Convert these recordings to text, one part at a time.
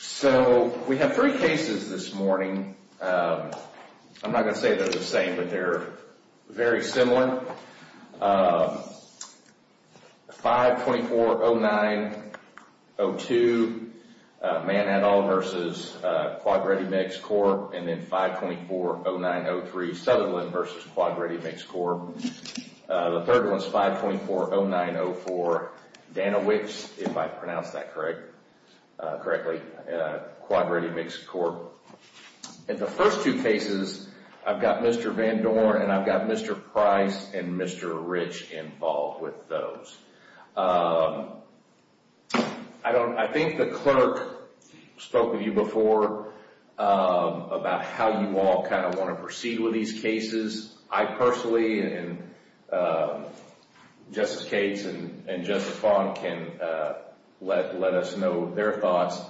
So we have three cases this morning. I'm not going to say they're the same, but they're very similar. 524-09-02, Man et al. versus Quad-Ready Mix Corp. and then 524-09-03, Southerland versus Quad-Ready Mix Corp. The third one is 524-09-04, Dana Wicks, if I pronounced that correctly. Quad-Ready Mix Corp. And the first two cases, I've got Mr. Van Dorn and I've got Mr. Price and Mr. Rich involved with those. I think the clerk spoke with you before about how you all kind of want to proceed with these cases. I personally and Justice Cates and Justice Fong can let us know their thoughts.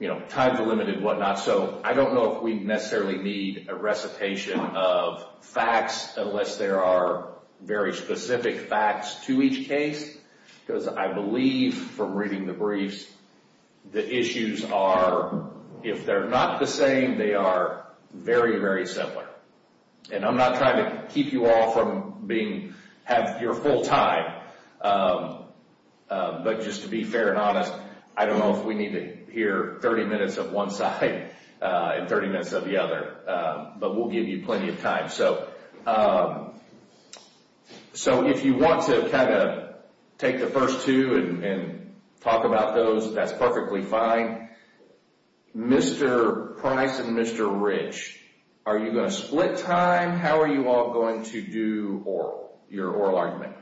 You know, time's limited and whatnot, so I don't know if we necessarily need a recitation of facts unless there are very specific facts to each case because I believe from reading the briefs, the issues are, if they're not the same, they are very, very similar. And I'm not trying to keep you all from having your full time, but just to be fair and honest, I don't know if we need to hear 30 minutes of one side and 30 minutes of the other, but we'll give you plenty of time. So if you want to kind of take the first two and talk about those, that's perfectly fine. Mr. Price and Mr. Rich, are you going to split time? How are you all going to do your oral argument?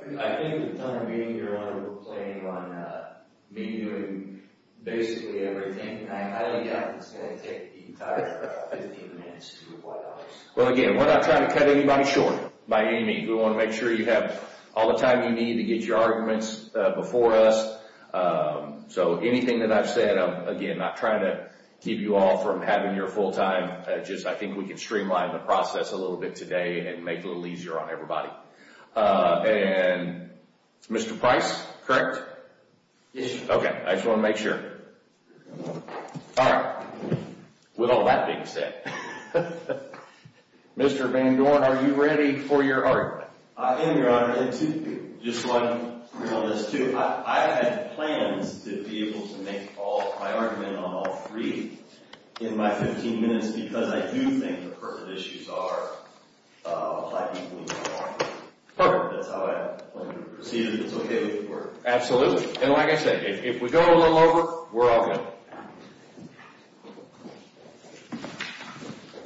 I think the time being, Your Honor, will play on me doing basically everything. I highly doubt it's going to take the entire 15 minutes to do what I'm supposed to do. Well, again, we're not trying to cut anybody short by any means. We want to make sure you have all the time you need to get your arguments before us. So anything that I've said, I'm not trying to keep you all from having your full time. I think we can streamline the process a little bit today and make it a little easier on everybody. And Mr. Price, correct? Yes, Your Honor. Okay. I just want to make sure. All right. With all that being said, Mr. Van Dorn, are you ready for your argument? I am, Your Honor. And just so I'm clear on this, too, I had plans to be able to make all my argument on all three in my 15 minutes because I do think the pertinent issues are applied equally. That's how I plan to proceed if it's okay with the Court. Absolutely. And like I said, if we go a little over, we're all good.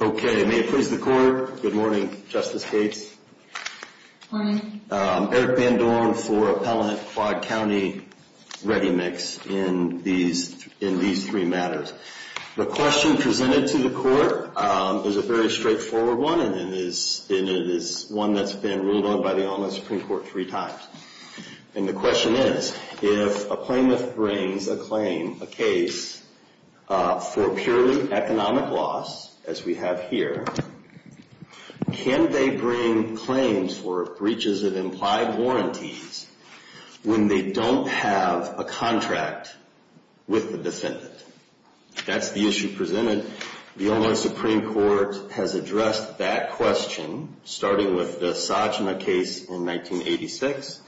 Okay. May it please the Court. Good morning, Justice Gates. Good morning. Eric Van Dorn for Appellant Quad County Ready Mix in these three matters. The question presented to the Court is a very straightforward one, and it is one that's been ruled on by the Allman Supreme Court three times. And the question is, if a plaintiff brings a claim, a case for purely economic loss, as we have here, can they bring claims for breaches of implied warranties when they don't have a contract with the defendant? That's the issue presented. The Allman Supreme Court has addressed that question, starting with the Sajma case in 1986,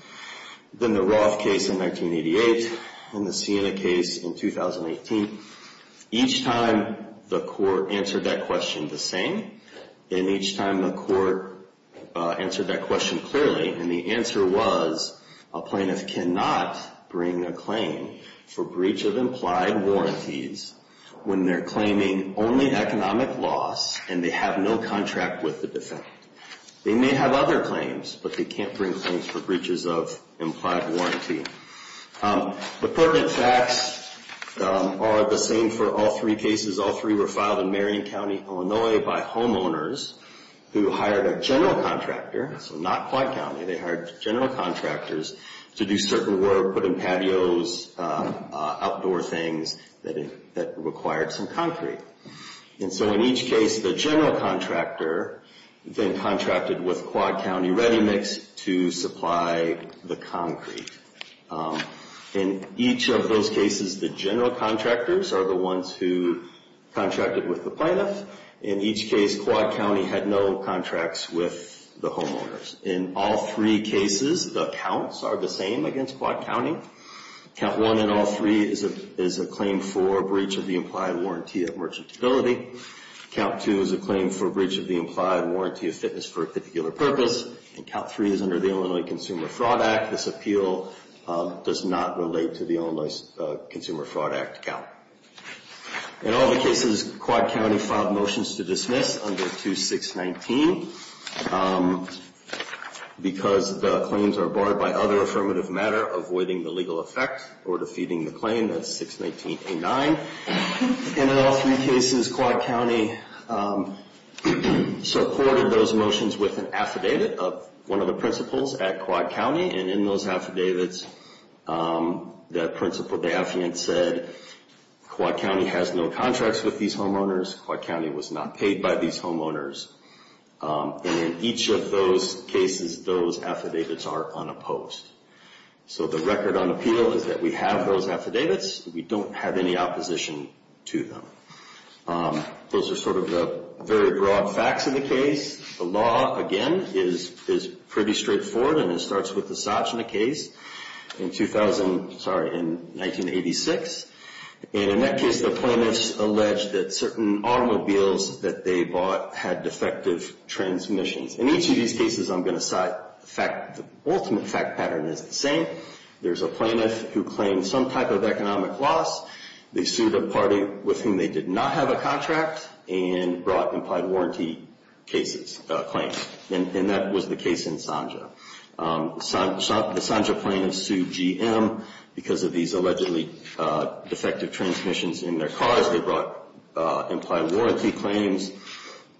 then the Roth case in 1988, and the Siena case in 2018. Each time the Court answered that question the same, and each time the Court answered that question clearly, and the answer was, a plaintiff cannot bring a claim for breach of implied warranties when they're claiming only economic loss and they have no contract with the defendant. They may have other claims, but they can't bring claims for breaches of implied warranty. The pertinent facts are the same for all three cases. All three were filed in Marion County, Illinois, by homeowners who hired a general contractor, so not Quad County, they hired general contractors to do certain work, put in patios, outdoor things that required some concrete. And so in each case, the general contractor then contracted with Quad County ReadyMix to supply the concrete. In each of those cases, the general contractors are the ones who contracted with the plaintiff. In each case, Quad County had no contracts with the homeowners. In all three cases, the counts are the same against Quad County. Count one in all three is a claim for breach of the implied warranty of merchantability. Count two is a claim for breach of the implied warranty of fitness for a particular purpose, and count three is under the Illinois Consumer Fraud Act. This appeal does not relate to the Illinois Consumer Fraud Act count. In all the cases, Quad County filed motions to dismiss under 2619 because the claims are barred by other affirmative matter avoiding the legal effect or defeating the claim, that's 619A9. And in all three cases, Quad County supported those motions with an affidavit of one of the principals at Quad County, and in those affidavits, that Principal Daffiant said Quad County has no contracts with these homeowners. Quad County was not paid by these homeowners. And in each of those cases, those affidavits are unopposed. So the record on appeal is that we have those affidavits. We don't have any opposition to them. Those are sort of the very broad facts of the case. The law, again, is pretty straightforward, and it starts with the Sajna case in 2000, sorry, in 1986. And in that case, the plaintiffs alleged that certain automobiles that they bought had defective transmissions. In each of these cases, I'm going to cite the fact, the ultimate fact pattern is the same. There's a plaintiff who claims some type of economic loss. They did not have a contract and brought implied warranty cases, claims. And that was the case in Sajna. The Sajna plaintiff sued GM because of these allegedly defective transmissions in their cars. They brought implied warranty claims.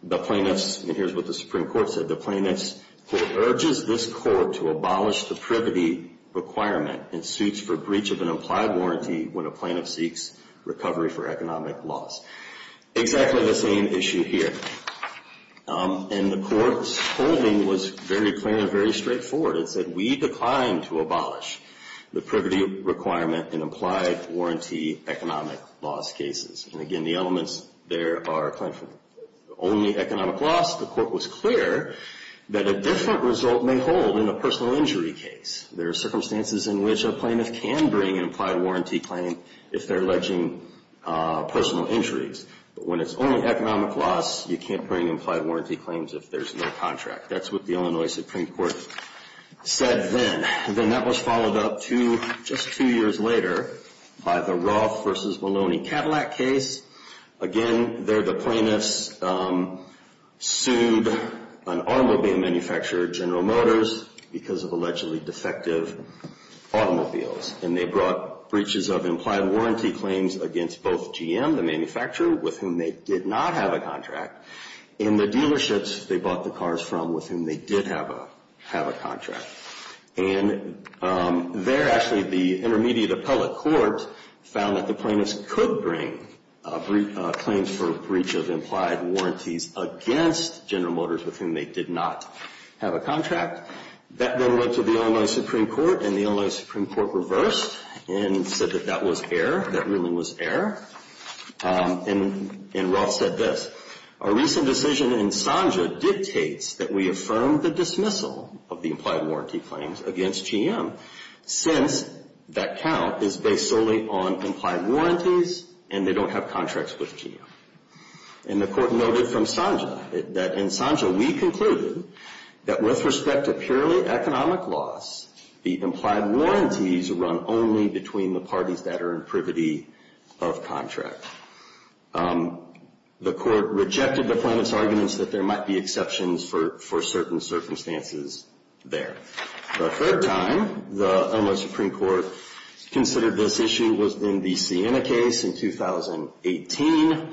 The plaintiffs, and here's what the Supreme Court said, the plaintiffs court urges this court to abolish the privity requirement in suits for of an implied warranty when a plaintiff seeks recovery for economic loss. Exactly the same issue here. And the court's holding was very plain and very straightforward. It said, we decline to abolish the privity requirement in implied warranty economic loss cases. And again, the elements there are only economic loss. The court was clear that a different result may hold in a personal injury case. There are circumstances in which a plaintiff can bring an implied warranty claim if they're alleging personal injuries. But when it's only economic loss, you can't bring implied warranty claims if there's no contract. That's what the Illinois Supreme Court said then. And then that was followed up to just two years later by the Roth versus Maloney Cadillac case. Again, there the plaintiffs sued an automobile manufacturer, General Motors, because of allegedly defective automobiles. And they brought breaches of implied warranty claims against both GM, the manufacturer, with whom they did not have a contract, and the dealerships they bought the cars from with whom they did have a contract. And there actually the intermediate appellate court found that the plaintiffs could bring claims for breach of implied warranties against General Motors with whom they did not have a contract. That then went to the Illinois Supreme Court, and the Illinois Supreme Court reversed and said that that was error, that ruling was error. And Roth said this, a recent decision in Sanja dictates that we affirm the dismissal of the implied warranty claims against GM, since that count is based solely on implied warranties and they don't have contracts with GM. And the court noted from Sanja that in Sanja we concluded that with respect to purely economic loss, the implied warranties run only between the parties that are in privity of contract. The court rejected the plaintiffs' arguments that there might be exceptions for certain circumstances there. The third time the Illinois Supreme Court considered this issue was in the Sienna case in 2018.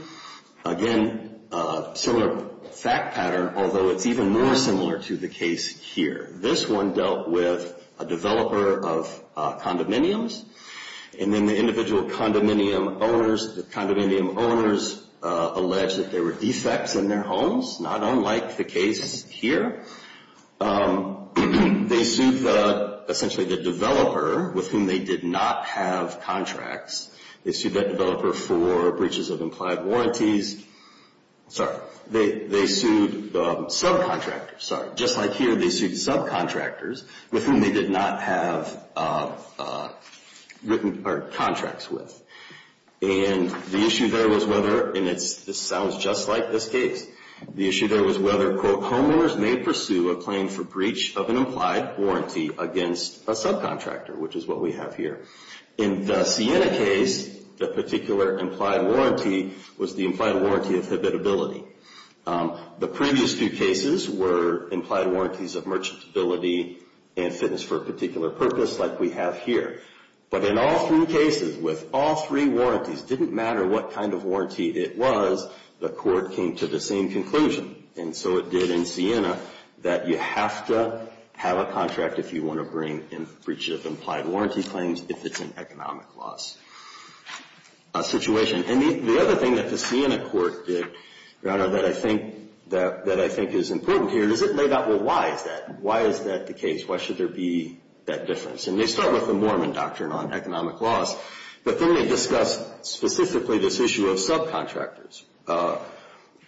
Again, a similar fact pattern, although it's even more similar to the case here. This one dealt with a developer of condominiums, and then the individual condominium owners, the condominium owners alleged that there were defects in their homes, not unlike the case here. They sued essentially the developer with whom they did not have contracts, they sued that developer for breaches of implied warranties, sorry, they sued subcontractors, sorry, just like here they sued subcontractors with whom they did not have contracts with. And the issue there was whether, and this sounds just like this case, the issue there was whether, quote, homeowners may pursue a claim for breach of an implied warranty against a subcontractor, which is what we have here. In the Sienna case, the particular implied warranty was the implied warranty of habitability. The previous two cases were implied warranties of merchantability and fitness for a particular purpose, like we have here. But in all three cases, with all three warranties, it didn't matter what kind of conclusion. And so it did in Sienna that you have to have a contract if you want to bring in breaches of implied warranty claims if it's an economic loss situation. And the other thing that the Sienna court did, Your Honor, that I think is important here is it laid out, well, why is that? Why is that the case? Why should there be that difference? And they start with the Mormon doctrine on economic loss, but then they discuss specifically this issue of subcontractors.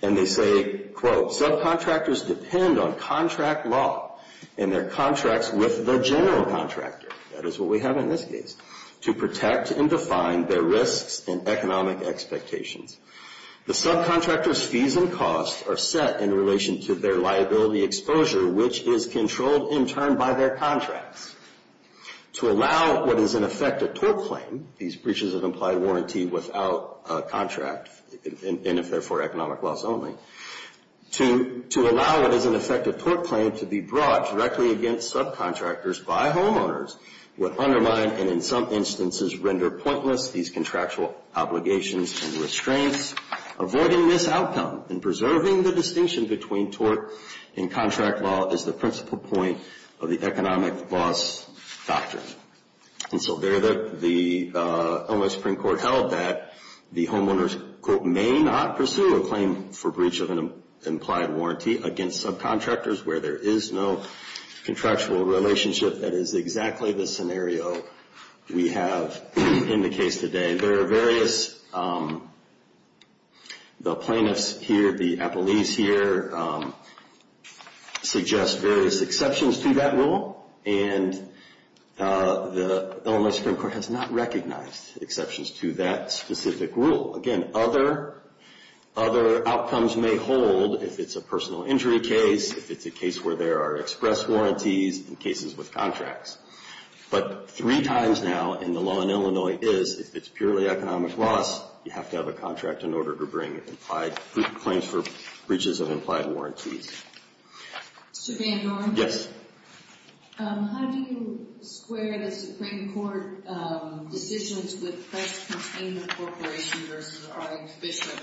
And they say, quote, subcontractors depend on contract law and their contracts with the general contractor, that is what we have in this case, to protect and define their risks and economic expectations. The subcontractor's fees and costs are set in relation to their liability exposure, which is controlled in turn by their contracts. To allow what is in effect a tort claim, these breaches of implied warranty without a contract, and if they're for economic loss only, to allow what is in effect a tort claim to be brought directly against subcontractors by homeowners would undermine and in some instances render pointless these contractual obligations and restraints. Avoiding this outcome and preserving the distinction between tort and contract law is the principal point of the economic loss doctrine. And so there the Illinois Supreme Court held that the homeowners, quote, may not pursue a claim for breach of an implied warranty against subcontractors where there is no contractual relationship. That is exactly the scenario we have in the case today. There are various, the plaintiffs here, the appellees here, suggest various exceptions to that rule and the Illinois Supreme Court has not recognized exceptions to that specific rule. Again, other outcomes may hold if it's a personal injury case, if it's a case where there are express warranties, in cases with contracts. But three times now in the law in Illinois is, if it's purely economic loss, you have to have a contract in order to bring implied claims for breaches of implied warranties. Mr. Van Doren? Yes. How do you square the Supreme Court decisions with press containment corporation versus the prime bishop?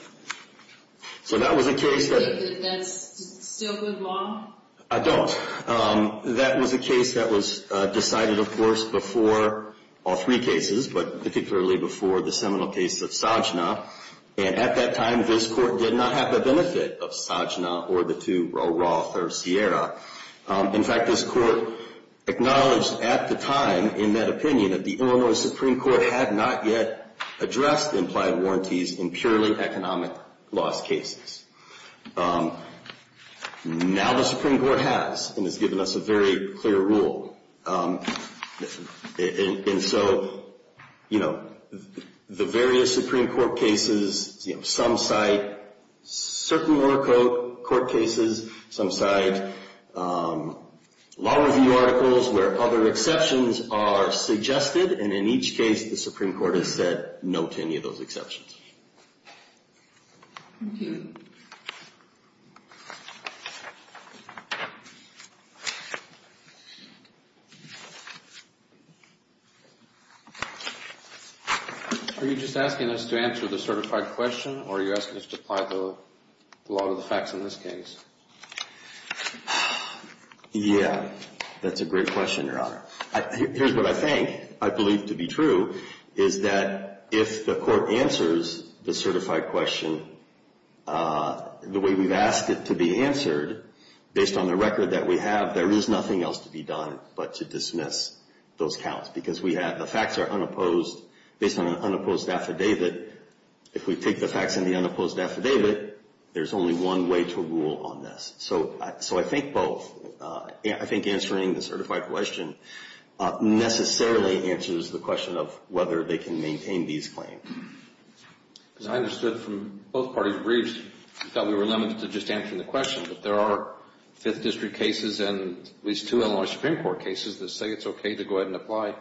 So that was a case that... That's still good law? I don't. That was a case that was decided, of course, before all three cases, but particularly before the seminal case of Sajna. And at that time, this court did not have the benefit of Sajna or the two, Roe Roth or Sierra. In fact, this court acknowledged at the time, in that opinion, that the Illinois Supreme Court had not yet addressed implied warranties in purely economic loss cases. Now the Supreme Court has, and has given us a very clear rule. And so, you know, the various Supreme Court cases, you know, some cite certain lower court cases, some cite law review articles where other exceptions are suggested. And in each case, the Supreme Court has said no to any of those exceptions. Are you just asking us to answer the certified question, or are you asking us to apply the law to the facts in this case? Yeah, that's a great question, Your Honor. Here's what I think, I believe to be true, is that if the court answers the certified question the way we've asked it to be answered, based on the record that we have, there is nothing else to be done but to dismiss those counts. Because we have the facts are unopposed, based on an unopposed affidavit. If we take the facts in the unopposed affidavit, there's only one way to rule on this. So I think both, I think answering the certified question necessarily answers the question of whether they can maintain these claims. As I understood from both parties' briefs, I thought we were limited to just answering the question, but there are fifth district cases and at least two Illinois Supreme Court cases that say it's okay to go ahead and apply.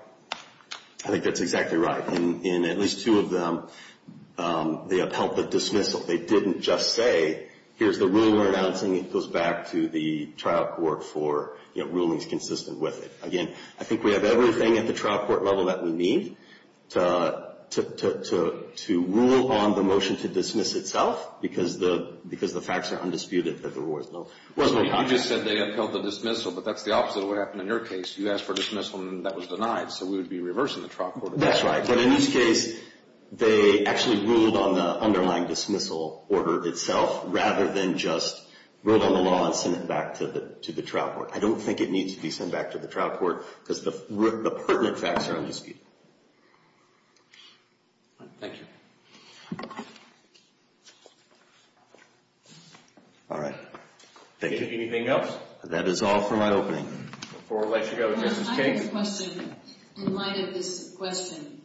I think that's exactly right. In at least two of them, they upheld the dismissal. They didn't just say, here's the rule we're announcing, it goes back to the trial court for rulings consistent with it. Again, I think we have everything at the trial court level that we need to rule on the motion to dismiss itself because the facts are undisputed. You just said they upheld the dismissal, but that's the opposite of what happened in your case. You asked for dismissal and that was denied, so we would be That's right, but in this case, they actually ruled on the underlying dismissal order itself rather than just ruled on the law and sent it back to the trial court. I don't think it needs to be sent back to the trial court because the pertinent facts are undisputed. Thank you. All right, thank you. Anything else? That is all for my opening. Before we let you go, I have a question in light of this question.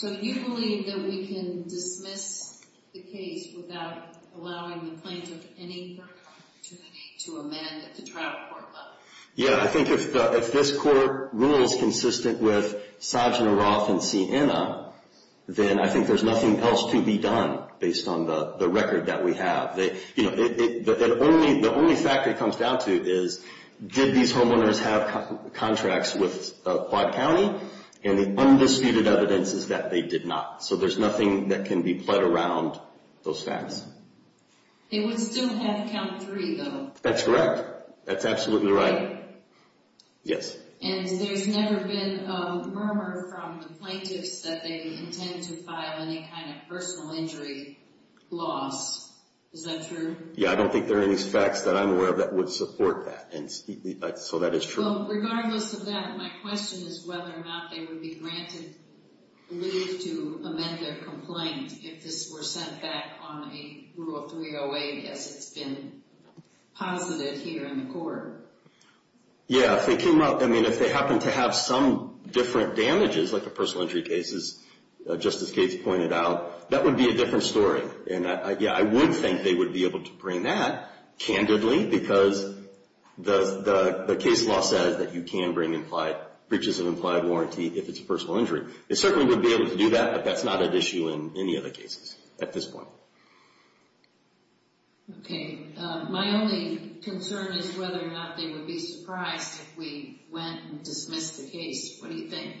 Do you believe that we can dismiss the case without allowing the plaintiff any opportunity to amend at the trial court level? Yeah, I think if this court rule is consistent with Sojourner Roth and Siena, then I think there's nothing else to be done based on the record that we have. The only fact it comes down to is, did these homeowners have contracts with Quad County? And the undisputed evidence is that they did not, so there's nothing that can be put around those facts. They would still have count three, though. That's correct. That's absolutely right. Yes. And there's never been a murmur from the plaintiffs that they intend to file any kind of personal injury loss. Is that true? Yeah, I don't think there are any facts that I'm aware of that would support that, and so that is true. Regardless of that, my question is whether or not they would be granted leave to amend their complaint if this were sent back on a Rule 308, as it's been posited here in the court. Yeah, if they came up, I mean, if they happen to have some different damages, like a personal injury cases, just as Kate's pointed out, that would be a different story. And yeah, I would think they would be able to bring that, candidly, because the case law says that you can bring breaches of implied warranty if it's a personal injury. They certainly would be able to do that, but that's not an issue in any other cases at this point. Okay, my only concern is whether or not they would be surprised if we went and dismissed the case. What do you think?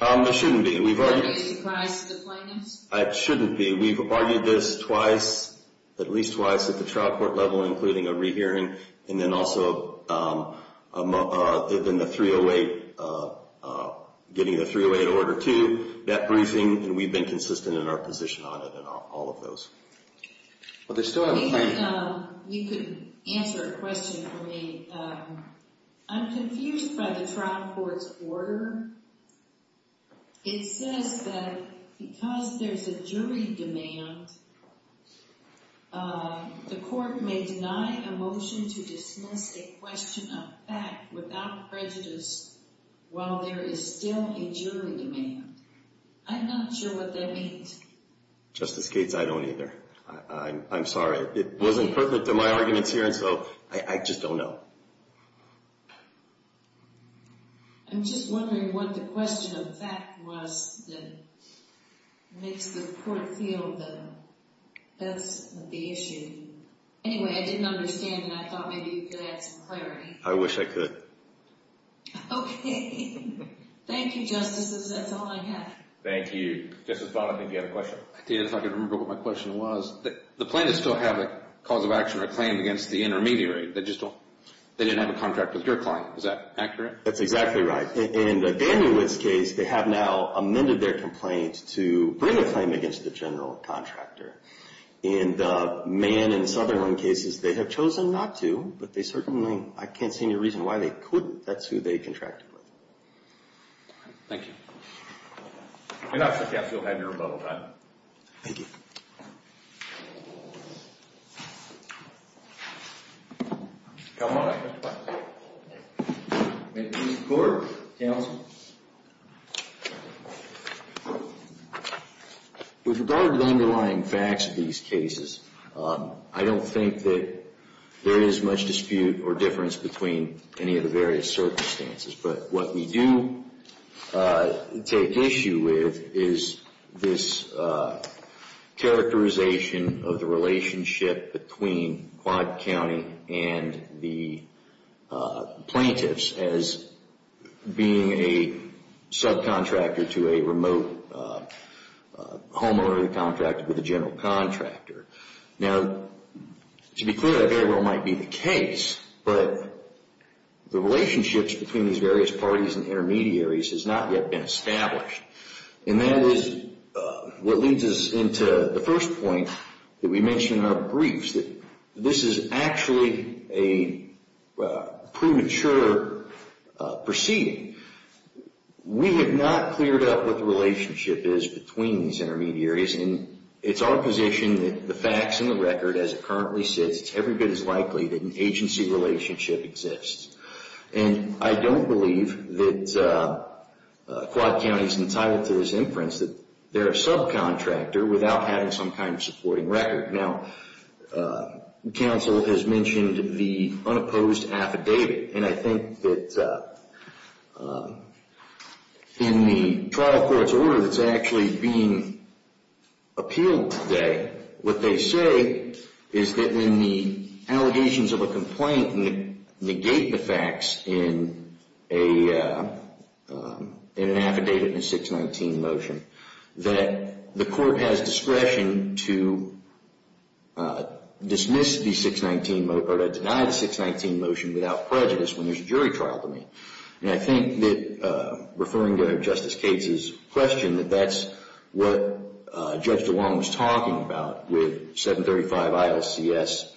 It shouldn't be. We've argued this twice, at least twice, at the trial court level, including a rehearing, and then also getting the 308 Order 2, that briefing, and we've been consistent in our position on it and all of those. Well, they still have a claim. If you could answer a question for me. I'm confused by the trial court's order. It says that because there's a jury demand, the court may deny a motion to dismiss a question of fact without prejudice, while there is still a jury demand. I'm not sure what that means. Justice Gates, I don't either. I'm sorry. It wasn't pertinent to my arguments here, and so I just don't know. I'm just wondering what the question of fact was that makes the court feel that that's the issue. Anyway, I didn't understand, and I thought maybe you could add some clarity. I wish I could. Okay. Thank you, Justices. That's all I have. Thank you. Justice Bonner, I think you had a question. I did, if I could remember what my question was. The plaintiffs still have a cause of action or claim against the intermediary. They just don't. They didn't have a contract with your client. Is that accurate? That's exactly right. In Daniel Witt's case, they have now amended their complaint to bring a claim against the general contractor. In the Mann and Sutherland cases, they have chosen not to, but they certainly, I can't see any reason why they couldn't. That's who they contracted with. Okay. Thank you. And that's the case you'll have your rebuttal time. Thank you. Come on up, Mr. Bonner. May I speak to the court, counsel? With regard to the underlying facts of these cases, I don't think that there is much dispute or difference between any of the various circumstances. But what we do take issue with is this characterization of the relationship between Quad County and the plaintiffs as being a subcontractor to a remote homeowner who contracted with a general contractor. Now, to be clear, that very well might be the case, but the relationships between these various parties and intermediaries has not yet been established. And that is what leads us into the first point that we mentioned in our briefs, that this is actually a premature proceeding. We have not cleared up what the relationship is between these intermediaries. And it's our position that the facts and the record as it currently sits, it's every bit as likely that an agency relationship exists. And I don't believe that Quad County is entitled to this inference that they're a subcontractor without having some kind of supporting record. Now, counsel has mentioned the unopposed affidavit. And I think that in the trial court's order that's actually being appealed today, what they say is that when the allegations of a complaint negate the facts in an affidavit in a 619 motion, that the court has discretion to dismiss the 619 or to deny the 619 motion without prejudice when there's a jury trial to meet. And I think that referring to Justice Cates's question, that that's what Judge DeWong was talking about with 735 ILCS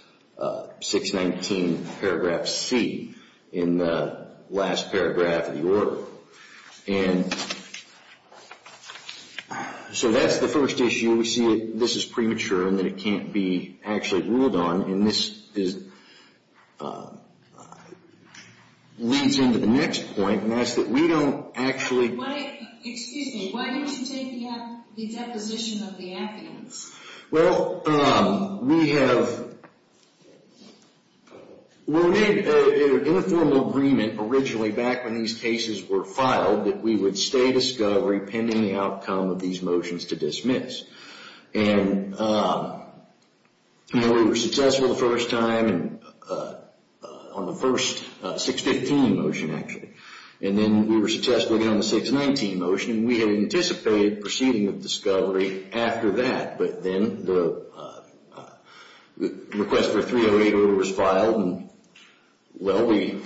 619 paragraph C in the last paragraph of the order. And so that's the first issue. We see that this is premature and that it can't be actually ruled on. And this leads into the next point, and that's that we don't actually... Excuse me, why don't you take the deposition of the affidavits? Well, we have... We made an informal agreement originally back when these cases were filed that we would stay discovery pending the outcome of these motions to dismiss. And we were successful the first time on the first 615 motion, actually. And then we were successful again on the 619 motion, and we had anticipated proceeding of discovery after that. But then the request for 308 order was filed and well, we...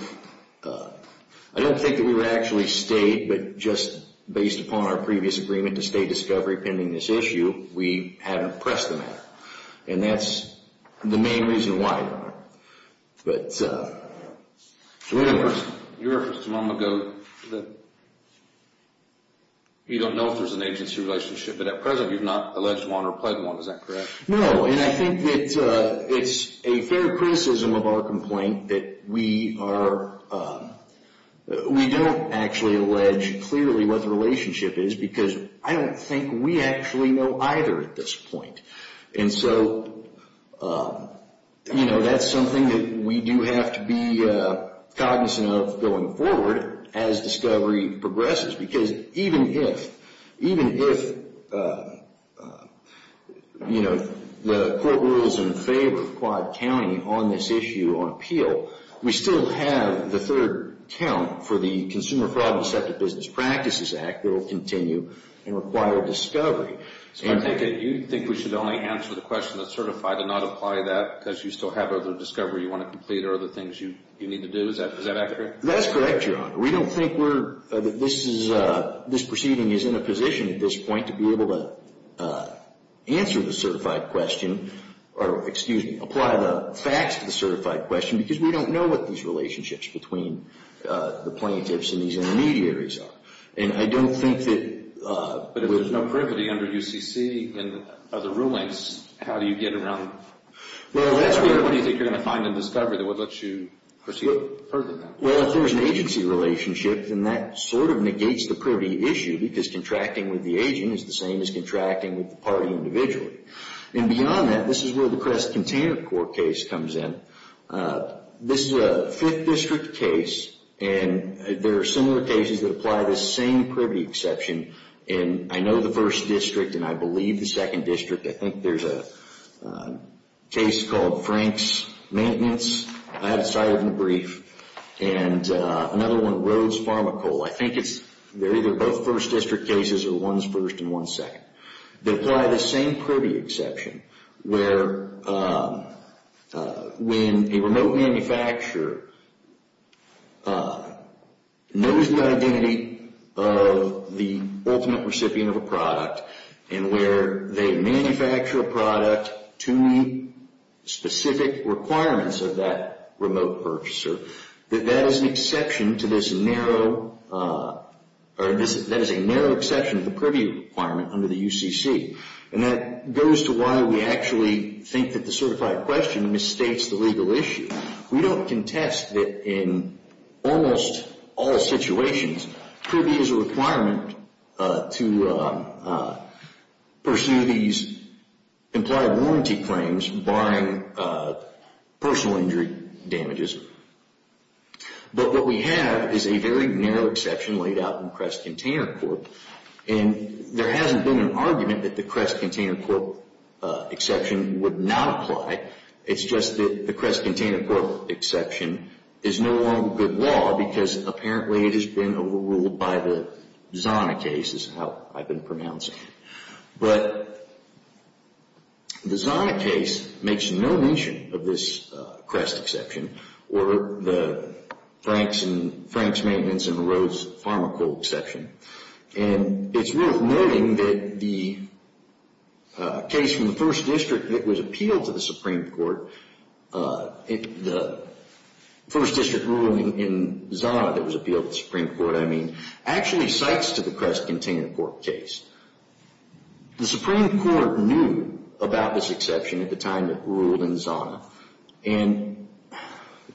I don't think that we were actually stayed, but just based upon our previous agreement to stay discovery pending this issue, we hadn't pressed the matter. And that's the main reason why but... You referenced a moment ago that you don't know if there's an agency relationship, but at present you've not alleged one or pledged one, is that correct? No, and I think that it's a fair criticism of our complaint that we are... We don't actually allege clearly what the relationship is, because I don't think we actually know either at this point. And so, you know, that's something that we do have to be cognizant of going forward as discovery progresses. Because even if the court rules in favor of Quad County on this issue on appeal, we still have the third count for the Consumer Fraud and Deceptive Business Practices Act that will continue and require discovery. So I think that you think we should only answer the question that's certified and not apply that because you still have other discovery you want to complete or other things you need to do. Is that accurate? That's correct, Your Honor. We don't think we're... This is... This proceeding is in a position at this point to be able to answer the certified question, or excuse me, apply the facts to the certified question, because we don't know what these relationships between the plaintiffs and these intermediaries are. And I don't think that... But if there's no privity under UCC and other rulings, how do you get around... Well, that's where... What do you think you're going to find in discovery that would let you proceed further than that? Well, if there's an agency relationship, then that sort of negates the privity issue, because contracting with the agent is the same as contracting with the party individually. And beyond that, this is where the Crest Container Court case comes in. This is a 5th District case, and there are similar cases that apply the same privity exception. And I know the 1st District, and I believe the 2nd District. I think there's a case called Frank's Maintenance. I haven't cited it in the brief. And another one, Rhodes Pharmacole. I think it's... They're either both 1st District cases, or one's 1st and one's 1st District. They apply the same privity exception, where when a remote manufacturer knows the identity of the ultimate recipient of a product, and where they manufacture a product to meet specific requirements of that remote purchaser, that that is an exception to this narrow... That is a narrow exception to the privy requirement under the UCC. And that goes to why we actually think that the certified question misstates the legal issue. We don't contest that in almost all situations, privy is a requirement to pursue these implied warranty claims, barring personal injury damages. But what we have is a very narrow exception laid out in Crest Container Corp. And there hasn't been an argument that the Crest Container Corp. exception would not apply. It's just that the Crest Container Corp. exception is no longer good law, because apparently it has been overruled by the Zana case, is how I've been pronouncing it. But the Zana case makes no mention of this Crest exception, or the Franks Maintenance and Rhodes Pharmacole exception. And it's worth noting that the case from the 1st District that was appealed to the Supreme Court, the 1st District ruling in Zana that was appealed to the Supreme Court, I mean, actually cites to the Crest Container Corp. case. The Supreme Court knew about this exception at the time it ruled in Zana. And,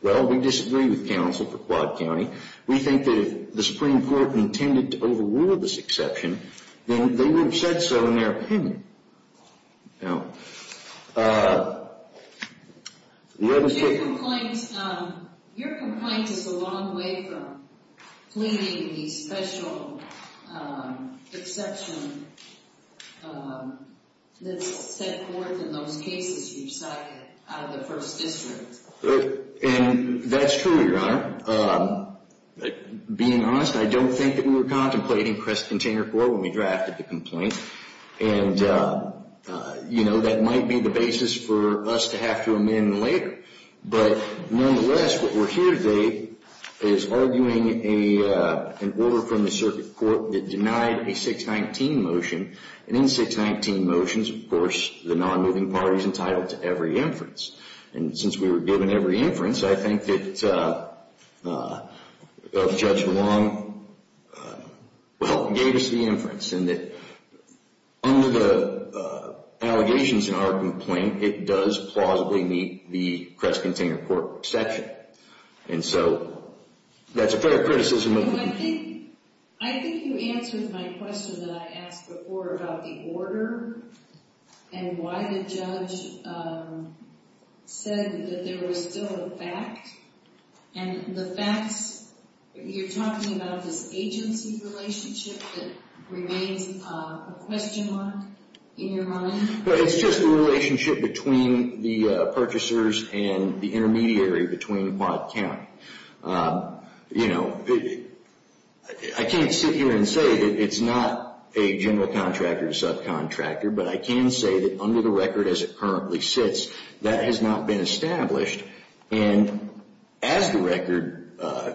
well, we disagree with counsel for Quad County. We think that if the Supreme Court intended to overrule this exception, then they would have said so in their opinion. Now, the other thing... Your complaint is a long way from pleading the special exception that's set forth in those cases you cited out of the 1st District. And that's true, Your Honor. Being honest, I don't think that we were contemplating Crest Container Corp. when we drafted the complaint. And, you know, that might be the basis for us to have to amend later. But nonetheless, what we're here today is arguing an order from the circuit court that denied a 619 motion. And in 619 motions, of course, the non-moving party's entitled to every inference. And since we were given every inference, I think that Judge Long, well, gave us the inference. And that under the allegations in our complaint, it does plausibly meet the Crest Container Corp. exception. And so that's a fair criticism of the... No, I think you answered my question that I asked before about the order and why the judge said that there was still a fact. And the facts, you're talking about this agency relationship that remains a question mark in your mind? Well, it's just a relationship between the purchasers and the intermediary between Watt County. You know, I can't sit here and say that it's not a general contractor or subcontractor, but I can say that under the record as it currently sits, that has not been established. And as the record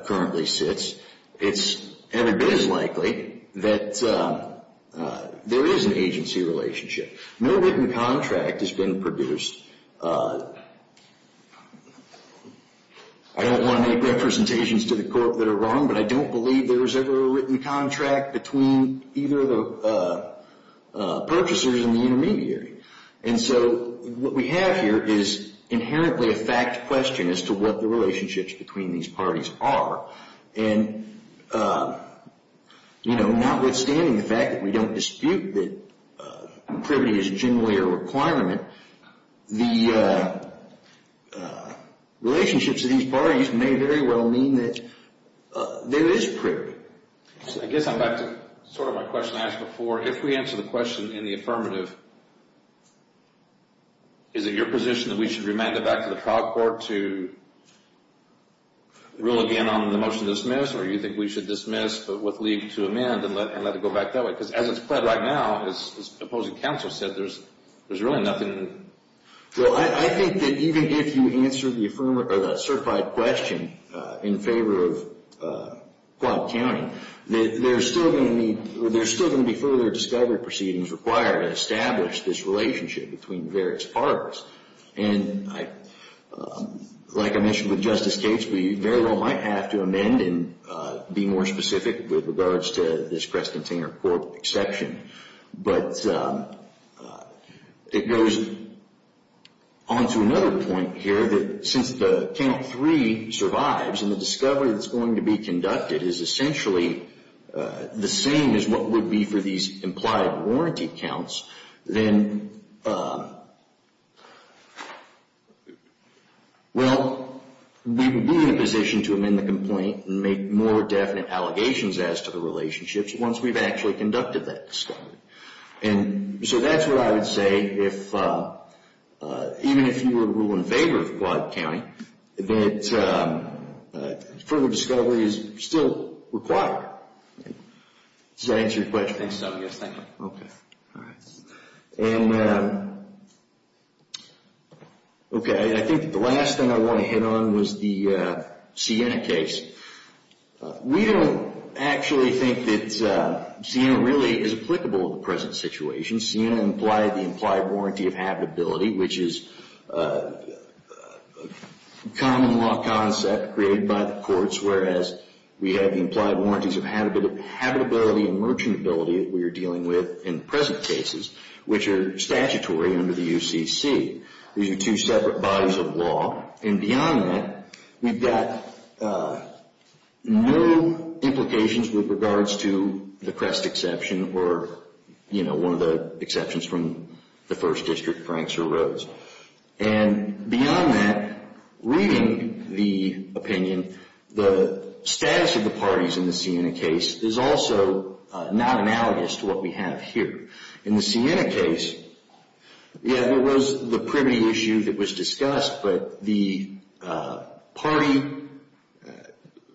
currently sits, it's every bit as likely that there is an agency relationship. No written contract has been produced. I don't want to make representations to the court that are wrong, but I don't believe there was ever a written contract between either of the purchasers and the intermediary. And so what we have here is inherently a fact question as to what the relationships between these parties are. And, you know, notwithstanding the fact that we don't dispute that privity is generally a requirement, the relationships of these parties may very well mean that there is privity. I guess I'm back to sort of my question I asked before. If we answer the question in the affirmative, is it your position that we should remand it back to the trial court to rule again on the motion to dismiss, or do you think we should dismiss but with leave to amend and let it go back that way? Because as it's pled right now, as opposing counsel said, there's there's really nothing... Well, I think that even if you answer the affirmative or that certified question in favor of Quad County, there's still going to be further discovery proceedings required to establish this relationship between various parties. And like I mentioned with Justice Cates, we very well might have to amend and be more specific with regards to this press discovery that's going to be conducted is essentially the same as what would be for these implied warranty counts, then... Well, we would be in a position to amend the complaint and make more definite allegations as to the relationships once we've actually conducted that discovery. And so that's what I would say, even if you were to rule in favor of Quad County, that further discovery is still required. Does that answer your question? I think so, yes, thank you. Okay, all right. Okay, I think the last thing I want to hit on was the Sienna case. We don't actually think that Sienna really is applicable to the present situation. Sienna implied the implied warranty of habitability, which is a common law concept created by the courts, whereas we have the implied warranties of habitability and merchantability that we are dealing with in present cases, which are statutory under the UCC. These are two separate bodies of law, and beyond that, we've got no implications with regards to the Crest exception or, you know, one of the exceptions from the First District, Franks or Rhodes. And beyond that, reading the opinion, the status of the parties in the Sienna case is also not analogous to what we have here. In the Sienna case, yeah, there was the privity issue that was discussed, but the party,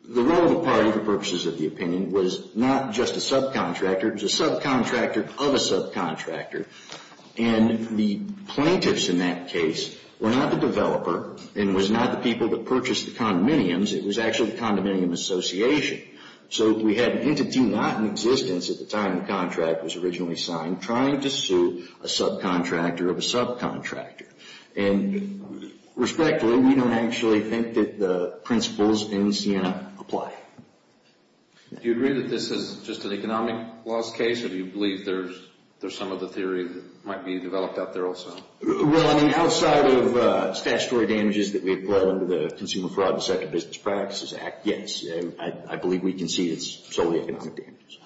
the role of the party, for purposes of the opinion, was not just a subcontractor, it was a subcontractor of a subcontractor. And the plaintiffs in that case were not the developer and was not the people that purchased the condominiums, it was actually the condominium association. So we had an entity not in existence at the time the contract was originally signed trying to sue a subcontractor of a subcontractor. And respectfully, we don't actually think that the principles in Sienna apply. Do you agree that this is just an economic loss case, or do you believe there's some of the theory that might be developed out there also? Well, I mean, outside of statutory damages that we have brought under the Consumer Fraud and Business Practices Act, yes, I believe we can see it's solely economic damages.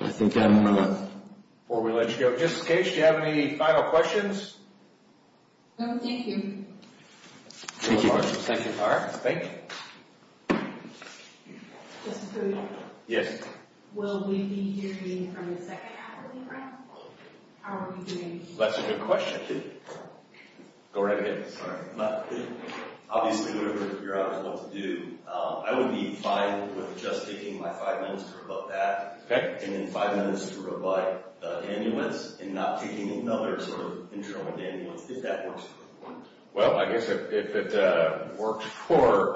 I think I'm going to, before we let you go, just in case, do you have any final questions? No, thank you. Thank you, thank you. All right, thank you. Mr. Perugino? Yes. Will we be hearing from the second half of the grant? How are we doing? That's a good question. Go right ahead. Obviously, whatever your honors want to do, I would be fine with just taking my five minutes to rebut that, and then five minutes to rebut the annuance, and not taking any other sort of internal annuance, if that works. Well, I guess if it works for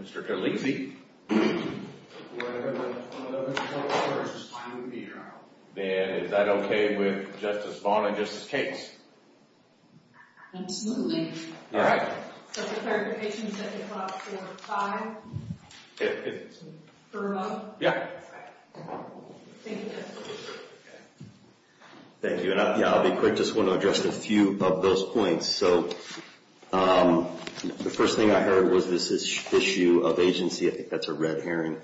Mr. Carlesi, we're going to have another 12 hours just fine with me here. Then is that okay with Justice Vaughn and Justice Cates? Absolutely. All right. Thank you, and I'll be quick, just want to address a few of those points. So the first thing I heard was this issue of agency. I think that's a red herring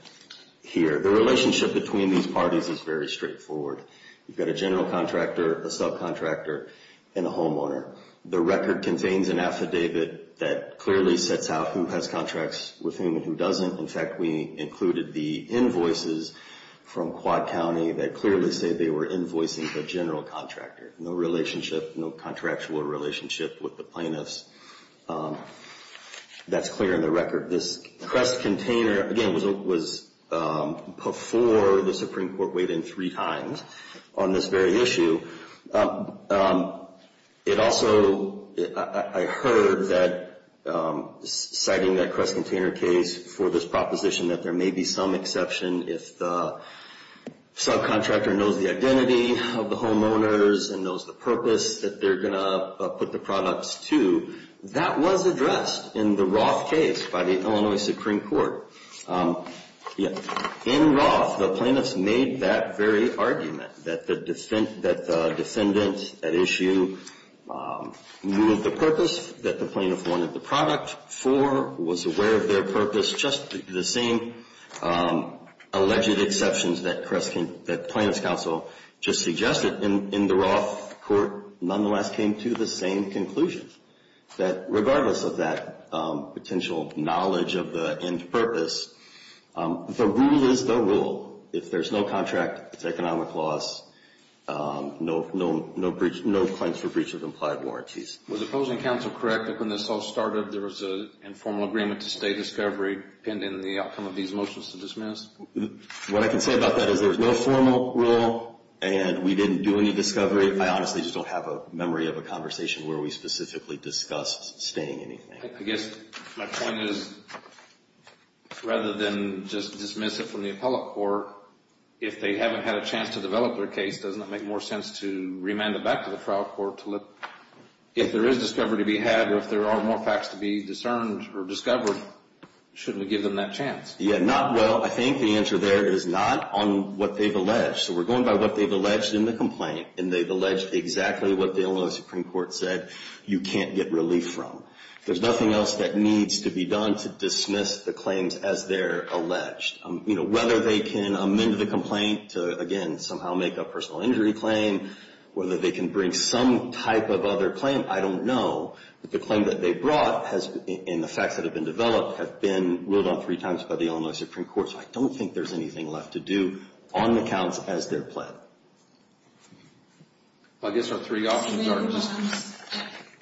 here. The relationship between these parties is very straightforward. You've got a general contractor, a subcontractor, and a homeowner. The record contains an affidavit that clearly sets out who has contracts with whom and who doesn't. In fact, we included the invoices from Quad County that clearly say they were invoicing the general contractor. No relationship, no contractual relationship with the plaintiffs. That's clear in the record. This Crest container, again, was before the Supreme Court weighed in three times on this very issue. It also, I heard that citing that Crest container case for this proposition that there may be some exception if the subcontractor knows the identity of the homeowners and knows the purpose that they're going to put the products to. That was addressed in the Roth case by the Illinois Supreme Court. In Roth, the plaintiffs made that very argument that the defendant at issue knew of the purpose that the plaintiff wanted the product for, was aware of just the same alleged exceptions that the plaintiff's counsel just suggested. In the Roth court, nonetheless, came to the same conclusion that regardless of that potential knowledge of the end purpose, the rule is the rule. If there's no contract, it's economic loss, no claims for breach of implied warranties. Was the opposing counsel correct that when this all pinned in the outcome of these motions to dismiss? What I can say about that is there's no formal rule and we didn't do any discovery. I honestly just don't have a memory of a conversation where we specifically discussed staying anything. I guess my point is rather than just dismiss it from the appellate court, if they haven't had a chance to develop their case, doesn't it make more sense to remand it back to the trial court to let, if there is discovery to be had or if there are more facts to be discerned or discovered, shouldn't we give them that chance? Yeah, not well. I think the answer there is not on what they've alleged. So we're going by what they've alleged in the complaint and they've alleged exactly what the Illinois Supreme Court said you can't get relief from. There's nothing else that needs to be done to dismiss the claims as they're alleged. Whether they can amend the complaint to, again, somehow make a personal injury claim, whether they can bring some type of other claim, I don't know. But the claim that they brought has, and the facts that have been developed, have been ruled on three times by the Illinois Supreme Court. So I don't think there's anything left to do on the counts as they're pled. I guess our three options are.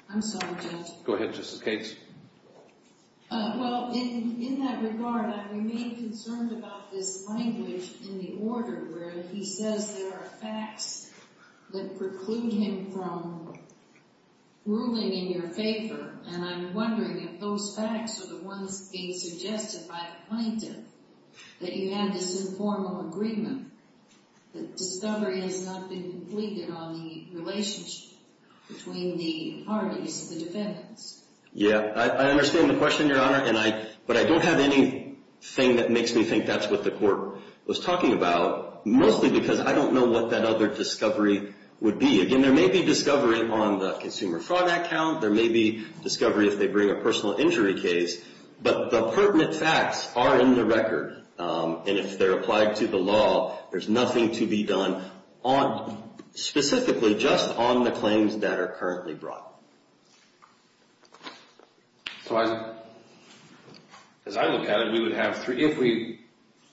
I'm sorry, Judge. Go ahead, Justice Cates. Well, in that regard, I remain concerned about this language in the order where he says there are facts that preclude him from ruling in your favor. And I'm wondering if those facts are the ones being suggested by the plaintiff that you had this informal agreement that discovery has not been completed on the relationship between the parties, the defendants. Yeah, I understand the question, Your Honor. But I don't have anything that makes me think that's what the court was talking about, mostly because I don't know what that other discovery would be. Again, there may be discovery on the consumer fraud account. There may be discovery if they bring a personal injury case. But the pertinent facts are in the record. And if they're applied to the law, there's nothing to be done specifically just on the claims that are currently brought. So as I look at it, if we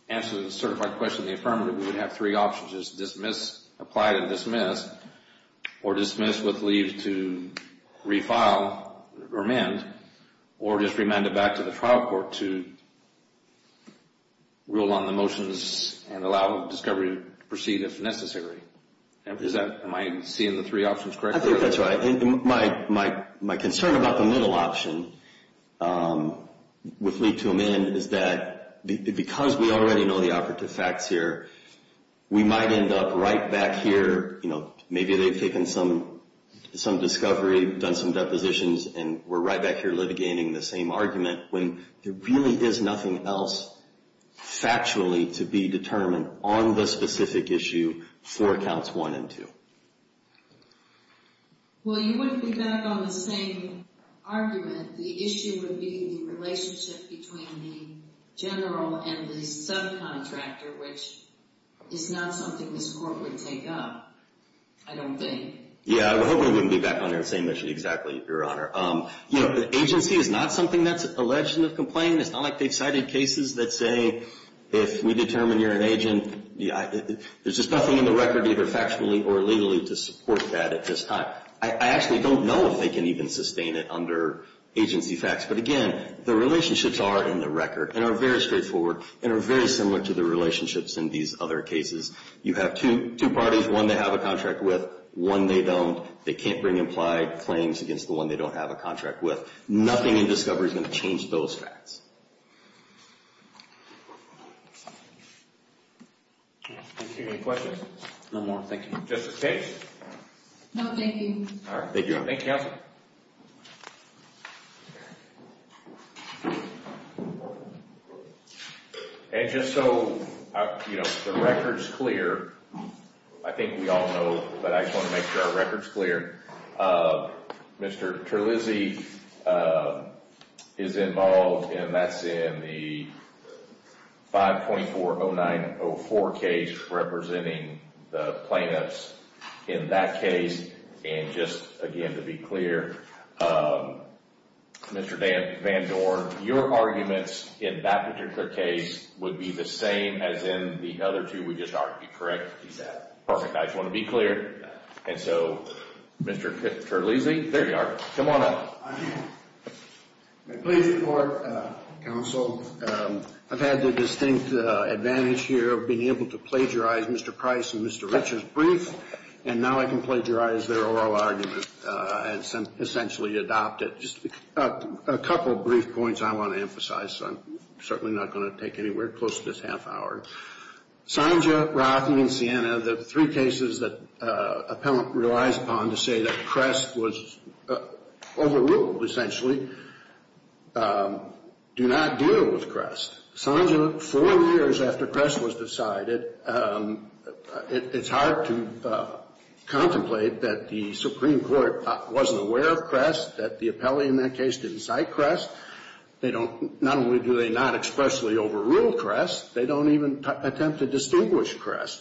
answer the certified question in the affirmative, we would have three options. Just apply to dismiss or dismiss with leave to refile or amend or just remand it back to the trial court to rule on the motions and allow discovery to proceed if necessary. Am I seeing the three options correctly? I think that's right. My concern about the middle option with leave to amend is that because we already know the operative facts here, we might end up right back here. Maybe they've taken some discovery, done some depositions, and we're right back here litigating the same argument when there really is nothing else factually to be determined on the specific issue for accounts one and two. Well, you wouldn't be back on the same argument. The issue would be the relationship between the general and the subcontractor, which is not something this court would take up, I don't think. Yeah, I hope we wouldn't be back on the same issue exactly, Your Honor. The agency is not something that's alleged in the complaint. It's not like they've cited cases that say, if we determine you're an agent, there's just nothing in the record either factually or legally to support that at this time. I actually don't know if they can even sustain it under agency facts. But again, the relationships are in the record and are very straightforward and are very similar to the relationships in these other cases. You have two parties, one they have a contract with, one they don't. They can't bring implied claims against the one they don't have a contract with. Nothing in discovery is going to change those facts. I don't see any questions. No more, thank you. Justice Page? No, thank you. All right. Thank you, Your Honor. Thank you, counsel. And just so the record's clear, I think we all know, but I just want to make sure our record's clear. Mr. Terlizzi is involved and that's in the 5.40904 case representing the plaintiffs in that case. And just again, to be clear, Mr. Van Dorn, your arguments in that particular case would be the same as in the other two we just argued, correct? He's right. Perfect. I just want to be clear. And so, Mr. Terlizzi, there you are. Come on up. I'm pleased to report, counsel, I've had the distinct advantage here of being able to plagiarize Mr. Price and Mr. Van Dorn. And now I can plagiarize their oral argument and essentially adopt it. Just a couple brief points I want to emphasize, so I'm certainly not going to take anywhere close to this half hour. Sanja, Rothy, and Sienna, the three cases that appellant relies upon to say that Crest was overruled, essentially, do not deal with Crest. Sanja, four years after Crest was decided, it's hard to contemplate that the Supreme Court wasn't aware of Crest, that the appellee in that case didn't cite Crest. They don't, not only do they not expressly overrule Crest, they don't even attempt to distinguish Crest.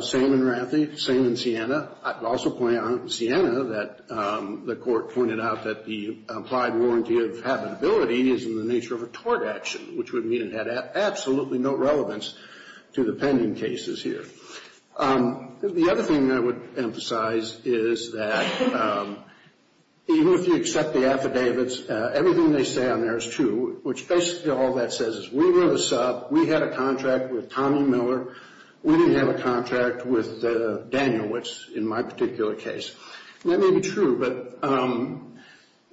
Same in Rothy, same in Sienna. I'd also point out in Sienna that the court pointed out that the applied warranty of habitability is in the nature of a tort action, which would mean it had absolutely no relevance to the pending cases here. The other thing I would emphasize is that even if you accept the affidavits, everything they say on there is true, which basically all that says is we were the sub, we had a contract with Tommy Miller, we didn't have a contract with Daniel, which in my particular case. That may be true, but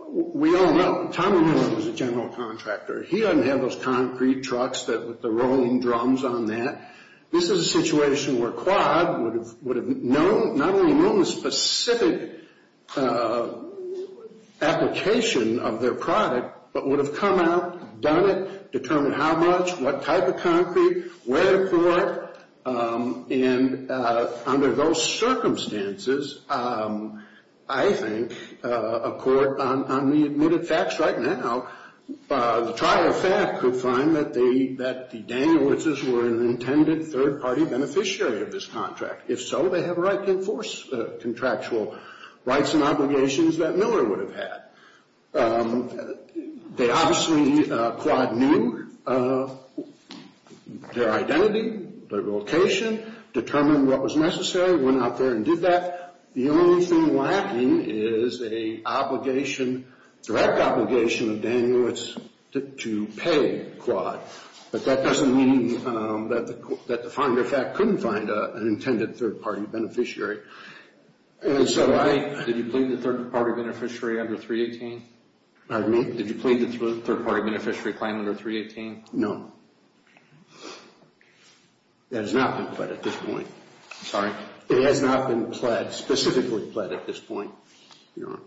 we all know Tommy Miller was a general contractor. He doesn't have those concrete trucks with the rolling drums on that. This is a situation where Quad would have not only known the specific application of their product, but would have come out, done it, determined how much, what type of concrete, where to pour it, and under those circumstances, I think a court, on the admitted facts right now, the trial of fact could find that the Danielowitzes were an intended third-party beneficiary of this contract. If so, they have a right to enforce the contractual rights and obligations that Miller would have had. They obviously, Quad knew their identity, their location, determined what was necessary, went out there and did that. The only thing lacking is a direct obligation of Danielowitz to pay Quad, but that doesn't mean that the third-party beneficiary under 318, did you plead the third-party beneficiary claim under 318? No. It has not been pled at this point. Sorry. It has not been pled, specifically pled at this point. So,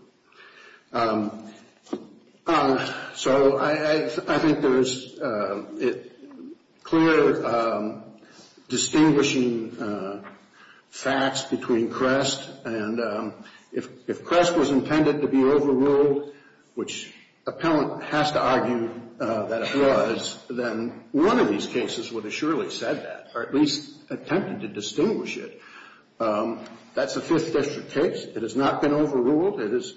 I think there's clear distinguishing facts between Crest and if Crest was intended to be overruled, which appellant has to argue that it was, then one of these cases would have surely said that, or at least attempted to distinguish it. That's a Fifth District case. It has not been overruled. It is,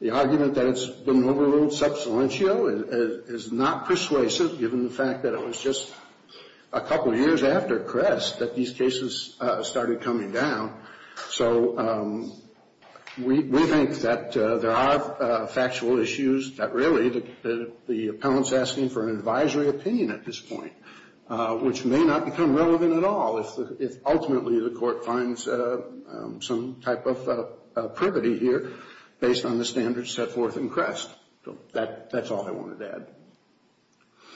the argument that it's been overruled sub salientio is not persuasive given the fact that it was just a couple years after Crest that these cases started coming down. So, we think that there are factual issues that really the appellant's asking for an advisory opinion at this point, which may not become relevant at all if ultimately the court finds some type of privity here based on the standards set forth in Crest. So, that's all I wanted to add.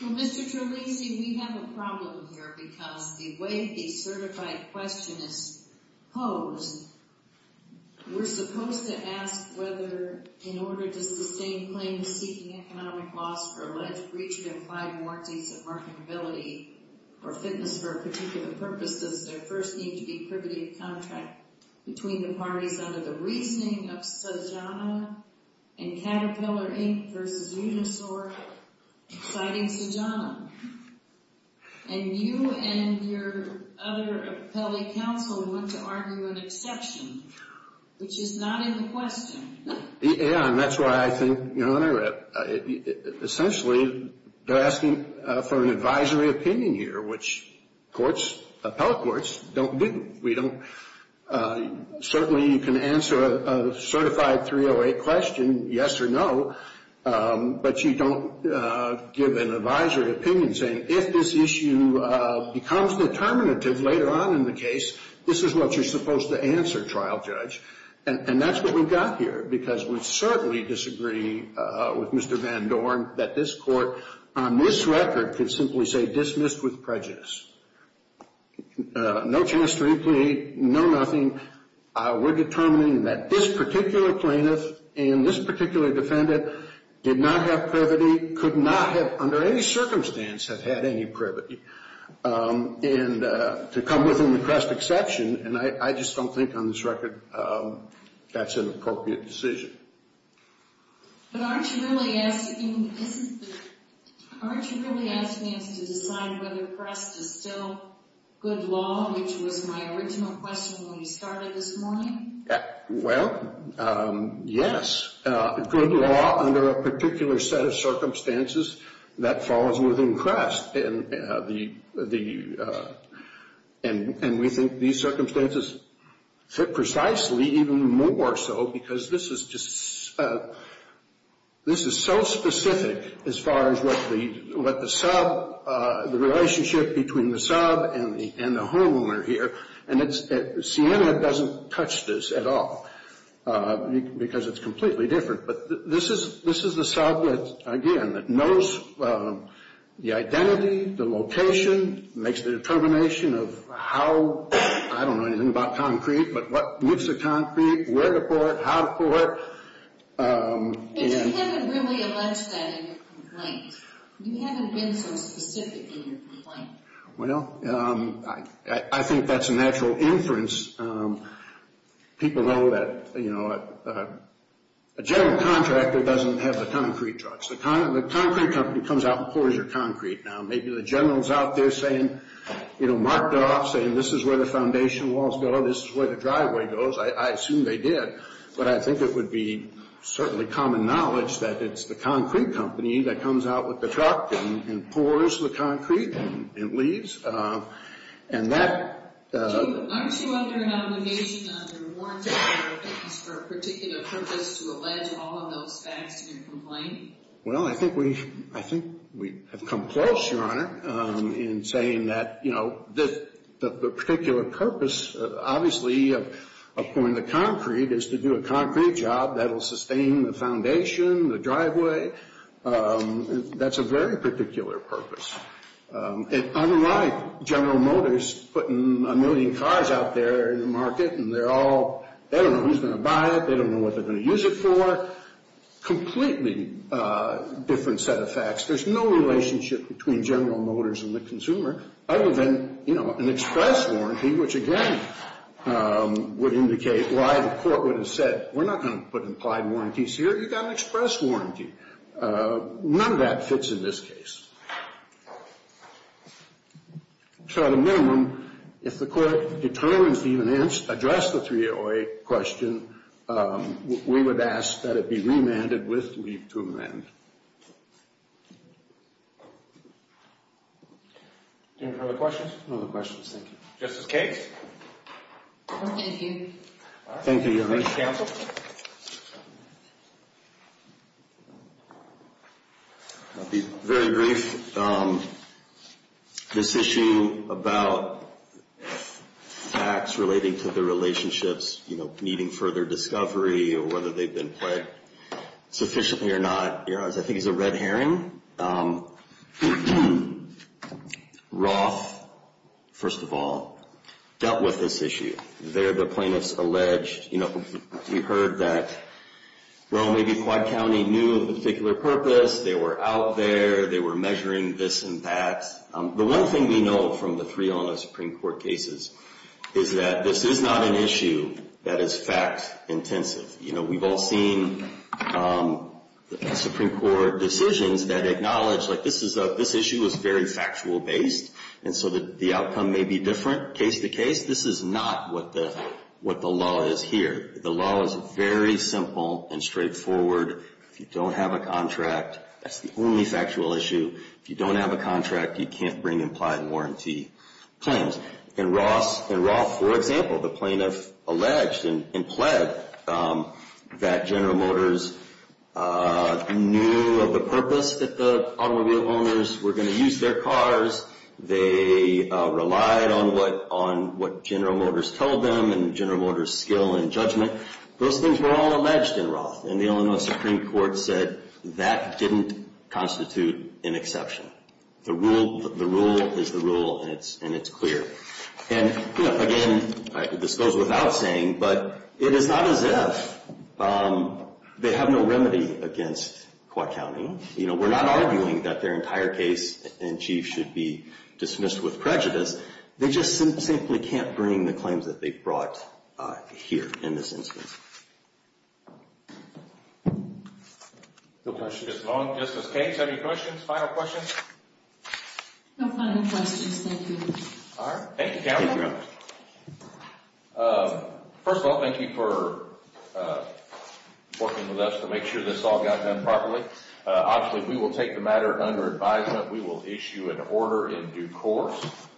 Well, Mr. Trelisi, we have a problem here because the way the certified question is posed, we're supposed to ask whether in order to sustain claims seeking economic loss for alleged breach of implied warranties of marketability or fitness for a particular purpose, does there first need to be privity of contract between the parties under the reasoning of Sojano and Caterpillar, Inc. versus Unisort, citing Sojano? And you and your other appellate counsel want to argue an exception, which is not in the question. Yeah, and that's why I think, you know, when I read essentially, they're asking for an advisory opinion here, which courts, appellate courts, don't do. We don't, certainly you can answer a certified 308 question, yes or no, but you don't give an advisory opinion saying, if this issue becomes determinative later on in the case, this is what you're supposed to answer, trial judge. And that's what we've got here, because we certainly disagree with Mr. Van Dorn that this court, on this record, could simply say dismissed with prejudice. No chance to replete, no nothing. We're determining that this particular plaintiff and this particular defendant did not have privity, could not have, under any circumstance, have had any privity. And to come within the crest exception, and I just don't think, on this record, that's an appropriate decision. But aren't you really asking us to decide whether crest is still good law, which was my original question when we started this morning? Well, yes, good law under a particular set of circumstances that falls within crest. And the, and we think these circumstances fit precisely, even more so, because this is just, this is so specific as far as what the, what the sub, the relationship between the sub and the homeowner here. And it's, Siena doesn't touch this at all, because it's completely different. But this is, this is the sub that, again, that knows the identity, the location, makes the determination of how, I don't know anything about concrete, but what, what's the concrete, where to pour it, how to pour it. But you haven't really alleged that in your complaint. You haven't been so specific in your complaint. Well, I think that's a natural inference. People know that, you know, a general contractor doesn't have the concrete trucks. The concrete company comes out and pours your concrete. Now, maybe the general's out there saying, you know, marked off, saying, this is where the foundation walls go, this is where the driveway goes. I assume they did. But I think it would be certainly common knowledge that it's the concrete company that comes out with the truck and pours the concrete and leaves. And that... Aren't you under an obligation under warrants for a particular purpose to allege all of those facts in your complaint? Well, I think we, I think we have come close, Your Honor, in saying that, you know, that the particular purpose, obviously, of pouring the concrete is to do a concrete job that'll sustain the foundation, the driveway. That's a very particular purpose. And unlike General Motors putting a million cars out there in the market, and they're all, they don't know who's going to buy it, they don't know what they're going to use it for. Completely different set of facts. There's no relationship between General Motors and the consumer, other than, you know, an express warranty, which again would indicate why the court would have said, we're not going to put implied warranties here, you've got an express warranty. None of that fits in this case. So at a minimum, if the court determines to even address the 308 question, we would ask that it be remanded with leave to amend. Any other questions? No other questions, thank you. Justice Cakes? Thank you, Your Honor. Please, counsel. I'll be very brief. This issue about facts relating to the relationships, you know, needing further discovery, or whether they've been played sufficiently or not, Your Honor, I think is a red herring. Roth, first of all, dealt with this issue. There, the plaintiffs alleged, you know, we heard that, well, maybe Quad County knew a particular purpose, they were out there, they were measuring this and that. The one thing we know from the three on the Supreme Court cases is that this is not an issue that is fact-intensive. You know, we've all seen Supreme Court decisions that acknowledge, like, this issue is very factual-based, and so the outcome may be different case-to-case. This is not what the law is here. The law is very simple and straightforward. If you don't have a contract, that's the only factual issue. If you don't have a contract, you can't bring implied warranty claims. In Roth, for example, the plaintiff alleged and pled that General Motors knew of the purpose that the automobile owners were going to use their cars. They relied on what General Motors told them and General Motors' skill and judgment. Those things were all alleged in Roth, and the Illinois Supreme Court said that didn't constitute an exception. The rule is the rule, and it's clear. And, you know, again, this goes without saying, but it is not as if they have no remedy against Quad County. You know, we're not arguing that their entire case in chief should be dismissed with prejudice. They just simply can't bring the claims that they've brought here in this instance. No questions. Ms. Long, Justice Cain, do you have any questions, final questions? No final questions, thank you. All right, thank you, counsel. First of all, thank you for working with us to make sure this all got done properly. Obviously, we will take the matter under advisement. We will issue an order in due course.